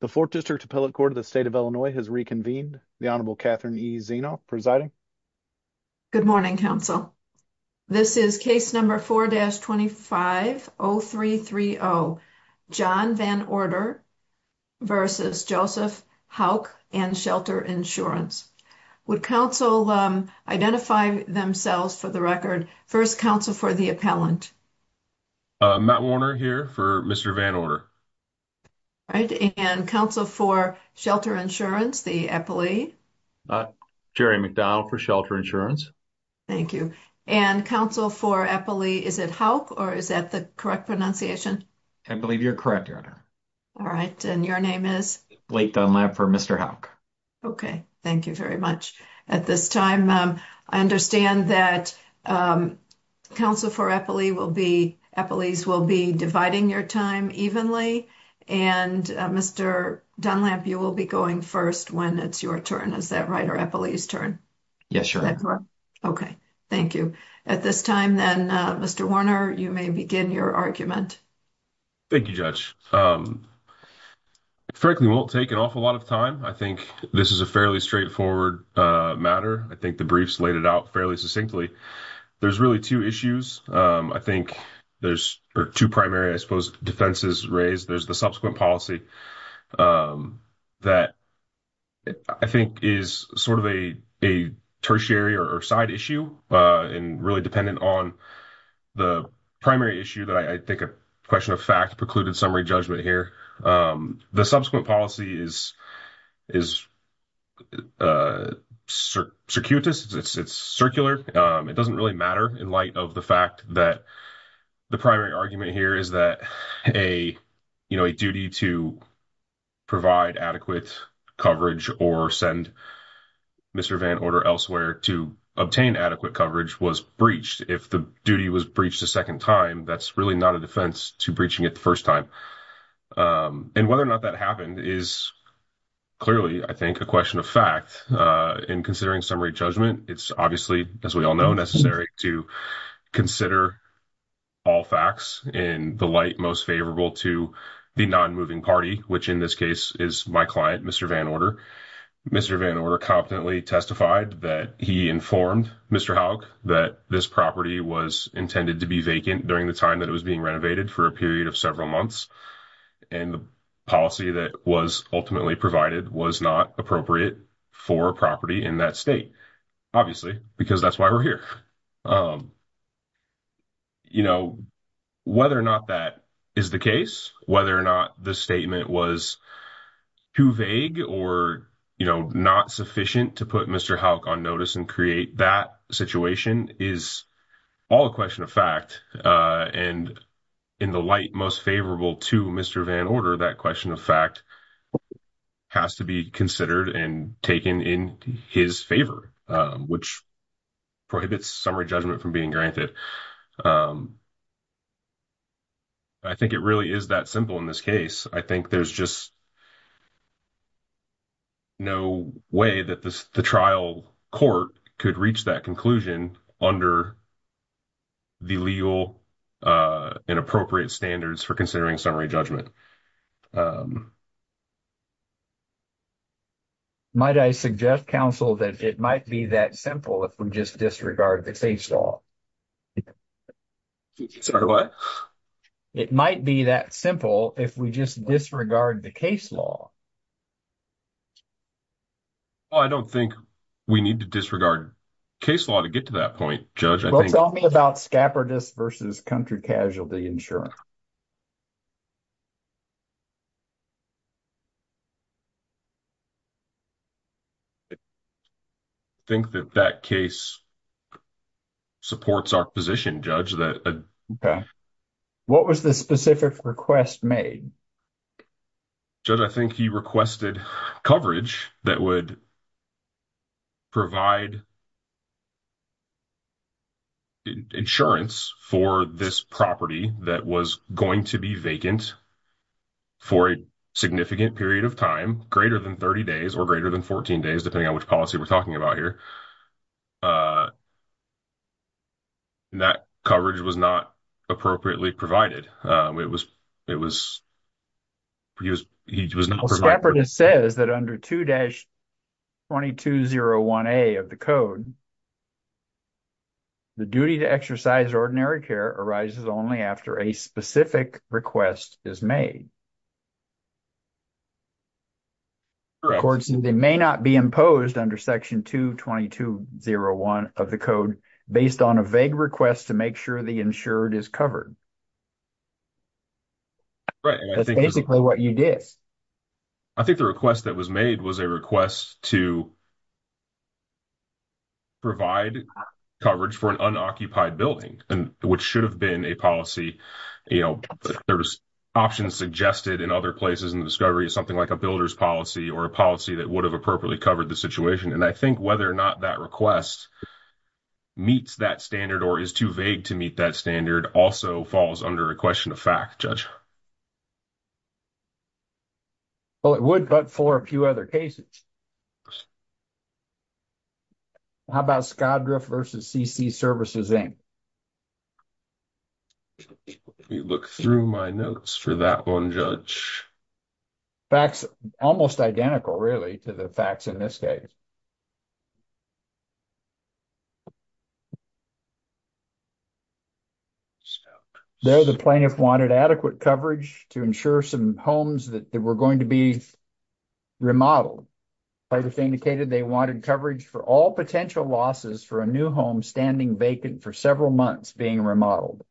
The 4th District Appellate Court of the State of Illinois has reconvened. The Honorable Catherine E. Zeno, presiding. Good morning, counsel. This is case number 4-250330, John Van Order v. Joseph Hauk and Shelter Insurance. Would counsel identify themselves for the record? First, counsel for the appellant. Matt Warner here for Mr. Van Order. All right. And counsel for Shelter Insurance, the appellee? Jerry McDonald for Shelter Insurance. Thank you. And counsel for appellee, is it Hauk or is that the correct pronunciation? I believe you're correct, Your Honor. All right. And your name is? Blake Dunlap for Mr. Hauk. Okay. Thank you very much. At this time, I understand that counsel for appellee will be, appellees will be dividing your time evenly. And Mr. Dunlap, you will be going first when it's your turn. Is that right? Or appellee's turn? Yes, sure. Okay. Thank you. At this time, then, Mr. Warner, you may begin your argument. Thank you, Judge. Frankly, it won't take an awful lot of time. I think this is a fairly straightforward matter. I think the briefs laid it out fairly succinctly. There's really two issues. I think there's two primary, I suppose, defenses raised. There's the subsequent policy that I think is sort of a tertiary or side issue and really dependent on the primary issue that I think a question of fact precluded summary judgment here. The subsequent policy is circular. It's circular. It doesn't really matter in light of the fact that the primary argument here is that a duty to provide adequate coverage or send Mr. Van order elsewhere to obtain adequate coverage was breached. If the duty was breached a 2nd time, that's really not a defense to breaching it the 1st time. And whether or not that happened is. Clearly, I think a question of fact, in considering summary judgment, it's obviously, as we all know, necessary to consider. All facts in the light, most favorable to the non moving party, which, in this case is my client, Mr. Van order, Mr. Van order competently testified that he informed Mr that this property was intended to be vacant during the time that it was being renovated for a period of several months. And the policy that was ultimately provided was not appropriate for property in that state. Obviously, because that's why we're here. You know, whether or not that is the case, whether or not the statement was. Too vague, or, you know, not sufficient to put Mr on notice and create that situation is. All a question of fact, and in the light, most favorable to Mr Van order that question of fact. Has to be considered and taken in his favor, which. Prohibits summary judgment from being granted. I think it really is that simple in this case. I think there's just. No way that the trial court could reach that conclusion under. The legal and appropriate standards for considering summary judgment. Might I suggest counsel that it might be that simple if we just disregard the case law. Sorry, what it might be that simple if we just disregard the case law. I don't think we need to disregard. Case law to get to that point judge, I think about scabbard versus country casualty insurance. I think that that case. Supports our position judge that. What was the specific request made? I think he requested coverage that would. Provide insurance for this property that was going to be vacant. For a significant period of time, greater than 30 days or greater than 14 days, depending on which policy we're talking about here. That coverage was not appropriately provided. It was. He was, he was says that under 2 dash. 2201 a of the code. The duty to exercise ordinary care arises only after a specific request is made. They may not be imposed under section 2201 of the code based on a vague request to make sure the insured is covered. That's basically what you did. I think the request that was made was a request to. Provide coverage for an unoccupied building, which should have been a policy. Options suggested in other places and discovery is something like a builder's policy or a policy that would have appropriately covered the situation. And I think whether or not that request. Meets that standard, or is too vague to meet that standard also falls under a question of fact judge. Well, it would, but for a few other cases. How about Scott versus CC services? You look through my notes for that 1 judge. That's almost identical really to the facts in this case. So, the plaintiff wanted adequate coverage to ensure some homes that they were going to be. Remodeled indicated they wanted coverage for all potential losses for a new home standing vacant for several months being remodeled.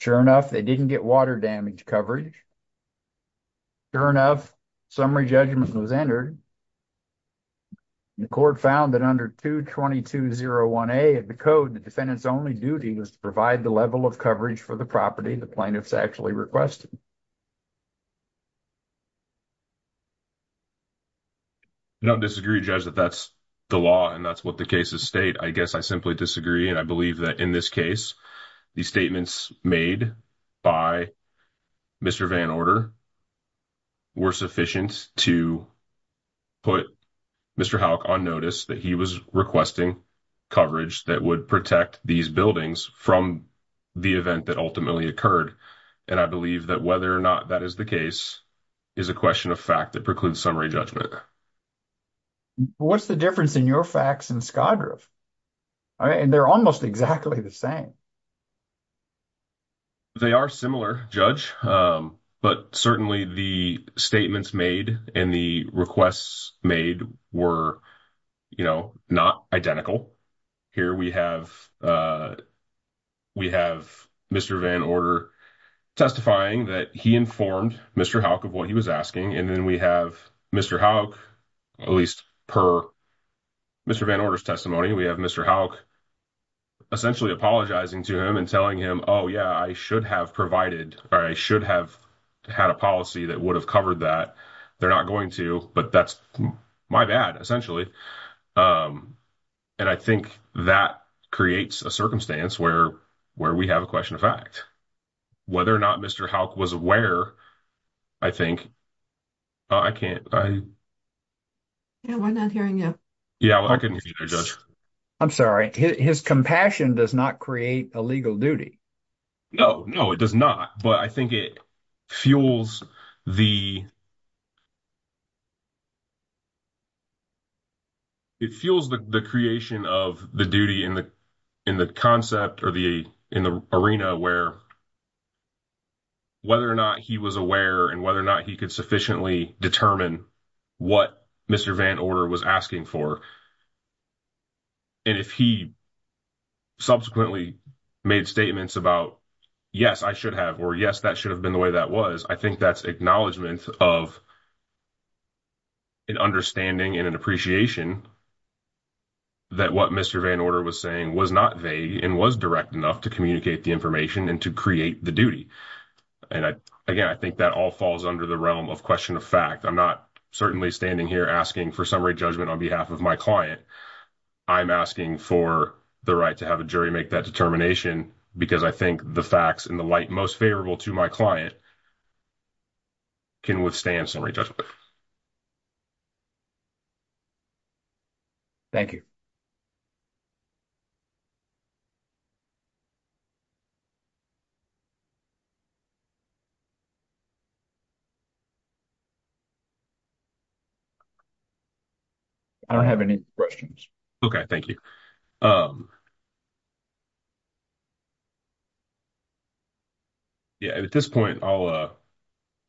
Sure enough, they didn't get water damage coverage. Sure enough summary judgment was entered. The court found that under 2201 a, the code, the defendants only duty was to provide the level of coverage for the property. The plaintiff's actually requested. No, disagree judge that that's the law and that's what the cases state. I guess I simply disagree and I believe that in this case. The statements made by Mr. Van order. We're sufficient to put. Mr. Hawk on notice that he was requesting coverage that would protect these buildings from. The event that ultimately occurred, and I believe that whether or not that is the case. Is a question of fact that precludes summary judgment. What's the difference in your facts and Scott? And they're almost exactly the same. They are similar judge, but certainly the statements made in the requests made were. You know, not identical here we have. We have Mr. Van order testifying that he informed Mr. Hawk of what he was asking and then we have Mr. Hawk. At least per Mr. Van orders testimony, we have Mr. Hawk. Essentially apologizing to him and telling him. Oh, yeah, I should have provided or I should have. Had a policy that would have covered that they're not going to, but that's my bad essentially. And I think that creates a circumstance where where we have a question of fact. Whether or not Mr. Hawk was aware, I think. I can't. Yeah, we're not hearing you. Yeah, I can. I'm sorry his compassion does not create a legal duty. No, no, it does not, but I think it. Fuels the. It feels the creation of the duty in the. In the concept, or the in the arena where. Whether or not he was aware and whether or not he could sufficiently determine. What Mr. Van order was asking for. And if he subsequently made statements about. Yes, I should have or yes, that should have been the way that was. I think that's acknowledgement of. An understanding and an appreciation. That what Mr. Van order was saying was not vague and was direct enough to communicate the information and to create the duty. And I, again, I think that all falls under the realm of question of fact, I'm not certainly standing here asking for summary judgment on behalf of my client. I'm asking for the right to have a jury make that determination because I think the facts and the light most favorable to my client. Can withstand summary judgment. Thank you. I don't have any questions. Okay. Thank you. Um. Yeah, at this point, I'll, uh,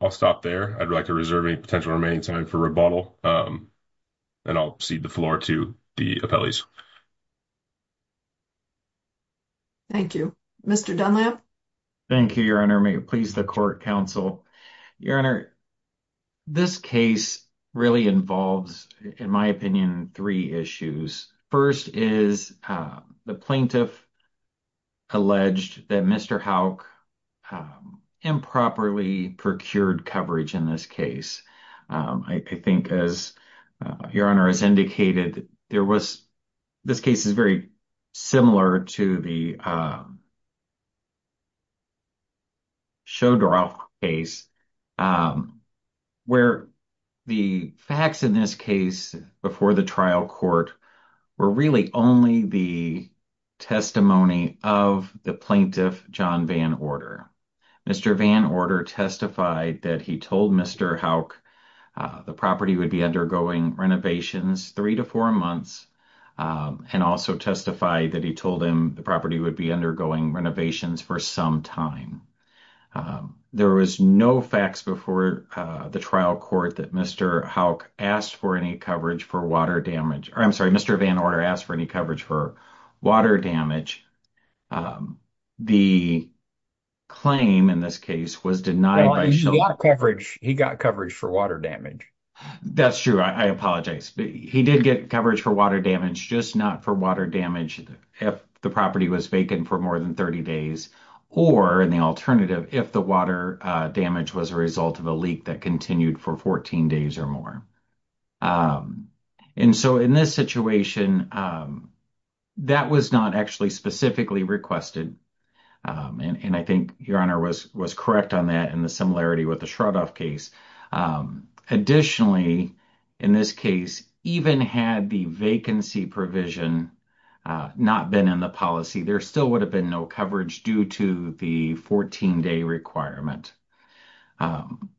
I'll stop there. I'd like to reserve a potential remaining time for rebuttal. And I'll see the floor to the appellees. Thank you, Mr. Dunlap. Thank you. Your honor. May it please the court counsel. Your honor, this case really involves, in my opinion, 3 issues. 1st is, uh, the plaintiff. Alleged that Mr. how. Improperly procured coverage in this case. Um, I, I think as, uh, your honor has indicated there was. This case is very similar to the, um. Show draw case, um. Where the facts in this case before the trial court. We're really only the testimony of the plaintiff John van order. Mr. van order testified that he told Mr. how. Uh, the property would be undergoing renovations 3 to 4 months. Um, and also testify that he told him the property would be undergoing renovations for some time. Um, there was no facts before, uh, the trial court that Mr. how asked for any coverage for water damage. I'm sorry. Mr. van order asked for any coverage for water damage. Um, the. Claim in this case was denied coverage. He got coverage for water damage. That's true. I apologize. He did get coverage for water damage. Just not for water damage. If the property was vacant for more than 30 days, or in the alternative, if the water damage was a result of a leak that continued for 14 days or more. Um, and so in this situation, um. That was not actually specifically requested. Um, and I think your honor was, was correct on that. And the similarity with the case, um, additionally. In this case, even had the vacancy provision, uh, not been in the policy, there still would have been no coverage due to the 14 day requirement. Um,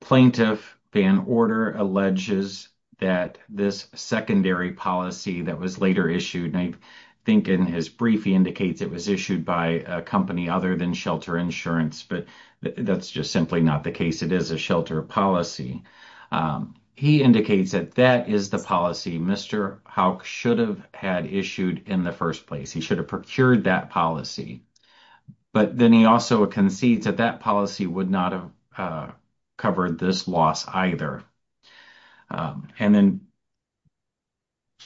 plaintiff van order alleges that this secondary policy that was later issued. I think in his brief, he indicates it was issued by a company other than shelter insurance, but that's just simply not the case. It is a shelter policy. Um, he indicates that that is the policy. Mr. how should have had issued in the 1st place. He should have procured that policy. But then he also concedes that that policy would not have, uh. Covered this loss either, um, and then.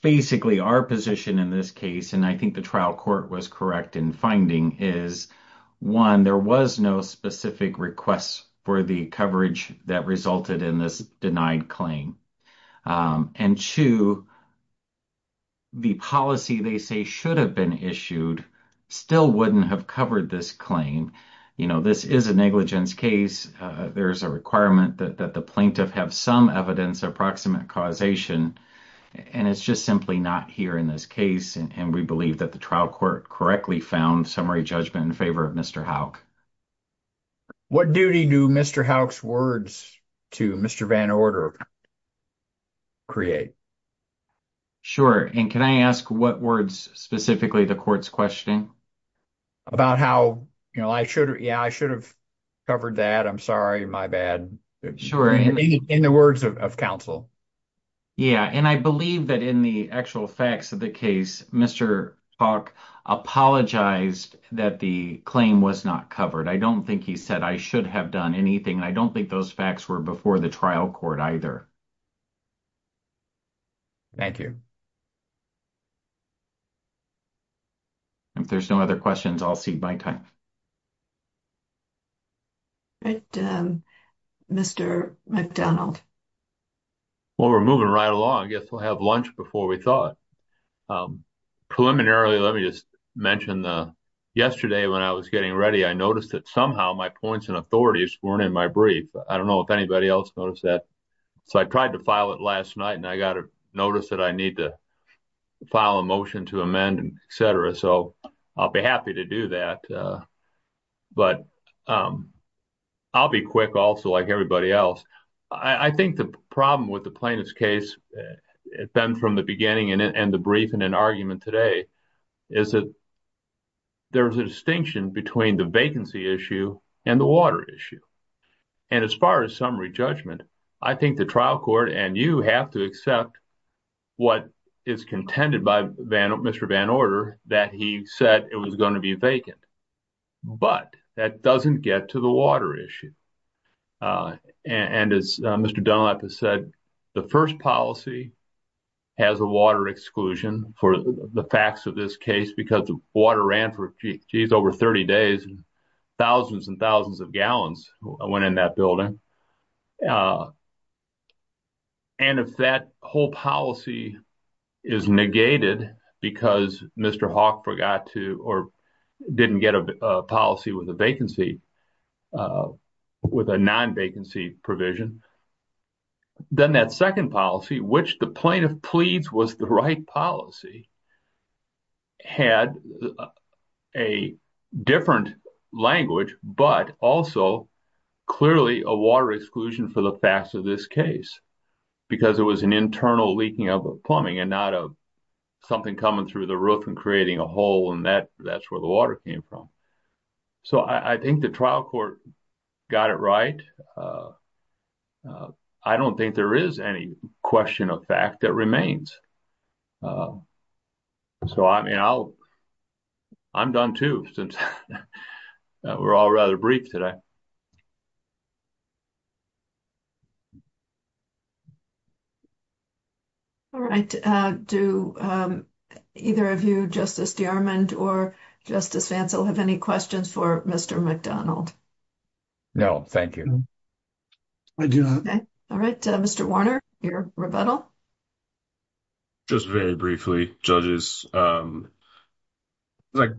Basically, our position in this case, and I think the trial court was correct in finding is. 1, there was no specific requests for the coverage that resulted in this denied claim. Um, and 2. The policy they say should have been issued. Still wouldn't have covered this claim. You know, this is a negligence case. Uh, there's a requirement that the plaintiff have some evidence approximate causation. And it's just simply not here in this case. And we believe that the trial court correctly found summary judgment in favor of Mr. how. What duty do Mr. how's words to Mr. Van order. Create sure and can I ask what words specifically the courts questioning. About how, you know, I should yeah, I should have covered that. I'm sorry. My bad. Sure. In the words of counsel. Yeah, and I believe that in the actual facts of the case, Mr. apologize that the claim was not covered. I don't think he said I should have done anything. And I don't think those facts were before the trial court either. Thank you. If there's no other questions, I'll see my time. Mr. McDonald. Well, we're moving right along. I guess we'll have lunch before we thought. Preliminarily, let me just mention the yesterday when I was getting ready, I noticed that somehow my points and authorities weren't in my brief. I don't know if anybody else noticed that. So I tried to file it last night and I got a notice that I need to file a motion to amend and et cetera. So I'll be happy to do that. But I'll be quick. Also, like everybody else. I think the problem with the plaintiff's case. It's been from the beginning and the brief and an argument today. Is it there's a distinction between the vacancy issue and the water issue. And as far as summary judgment, I think the trial court and you have to accept what is contended by Mr. Van order that he said it was going to be vacant. But that doesn't get to the water issue. And as Mr. Dunlap has said, the 1st policy. Has a water exclusion for the facts of this case, because the water ran for over 30 days. Thousands and thousands of gallons went in that building. And if that whole policy is negated because Mr. Hawk forgot to, or didn't get a policy with a vacancy. With a non vacancy provision. Then that 2nd policy, which the plaintiff pleads was the right policy. Had a different language, but also. Clearly, a water exclusion for the facts of this case. Because it was an internal leaking of plumbing and not a. Something coming through the roof and creating a hole and that that's where the water came from. So, I think the trial court got it right. I don't think there is any question of fact that remains. So, I mean, I'll. I'm done too, since we're all rather brief today. All right, do either of you justice or justice have any questions for Mr. McDonald? No, thank you. I do. All right. Mr. Warner, your rebuttal. Just very briefly judges. Like,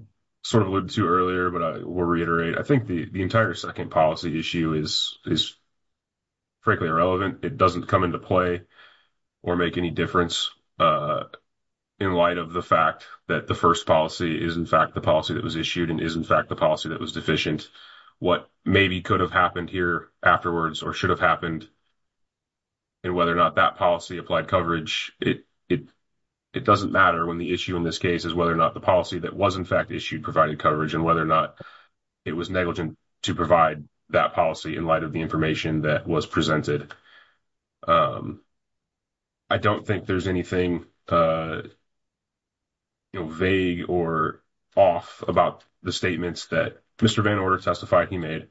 sort of a little too earlier, but I will reiterate, I think the entire 2nd policy issue is. Frankly, irrelevant, it doesn't come into play. Or make any difference in light of the fact that the 1st policy is, in fact, the policy that was issued and is, in fact, the policy that was deficient. What maybe could have happened here afterwards or should have happened. And whether or not that policy applied coverage, it. It doesn't matter when the issue in this case is whether or not the policy that was, in fact, issued, provided coverage and whether or not. It was negligent to provide that policy in light of the information that was presented. I don't think there's anything. You know, vague or off about the statements that Mr. Van order testified he made.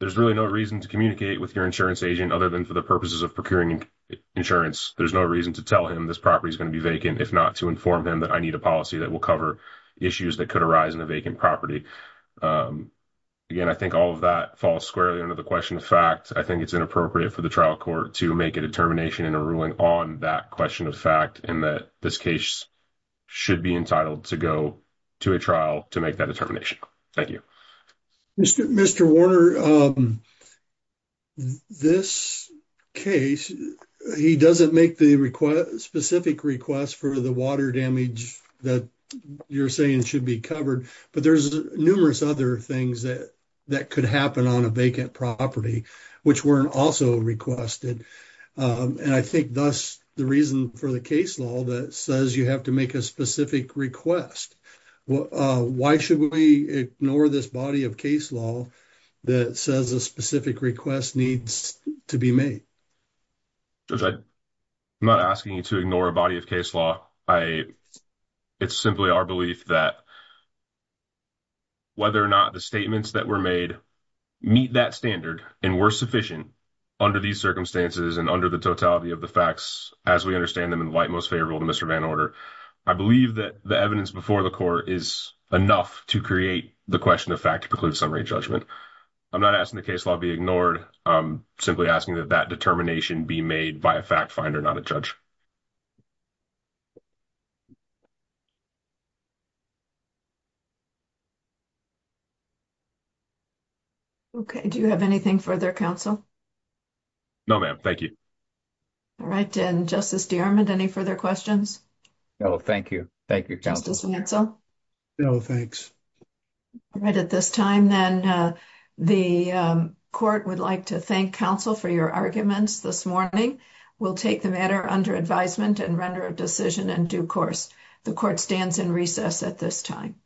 There's really no reason to communicate with your insurance agent, other than for the purposes of procuring insurance. There's no reason to tell him this property is going to be vacant. If not to inform him that I need a policy that will cover issues that could arise in a vacant property. Again, I think all of that falls squarely under the question of fact, I think it's inappropriate for the trial court to make a determination in a ruling on that question of fact, and that this case. Should be entitled to go to a trial to make that determination. Thank you. Mr. Mr. Warner. This case, he doesn't make the request specific request for the water damage that you're saying should be covered, but there's numerous other things that that could happen on a vacant property, which weren't also requested. And I think thus, the reason for the case law that says, you have to make a specific request. Why should we ignore this body of case law? That says a specific request needs to be made. I'm not asking you to ignore a body of case law. I. It's simply our belief that whether or not the statements that were made. Meet that standard, and we're sufficient under these circumstances, and under the totality of the facts, as we understand them in light, most favorable to Mr. Van order. I believe that the evidence before the court is enough to create the question of fact, preclude summary judgment. I'm not asking the case law be ignored. I'm simply asking that that determination be made by a fact finder, not a judge. Okay, do you have anything for their counsel? No, ma'am, thank you. All right. And justice, any further questions. No, thank you. Thank you. No, thanks. Right at this time, then the court would like to thank counsel for your arguments this morning. We'll take the matter under advisement and render a decision and due course. The court stands in recess at this time.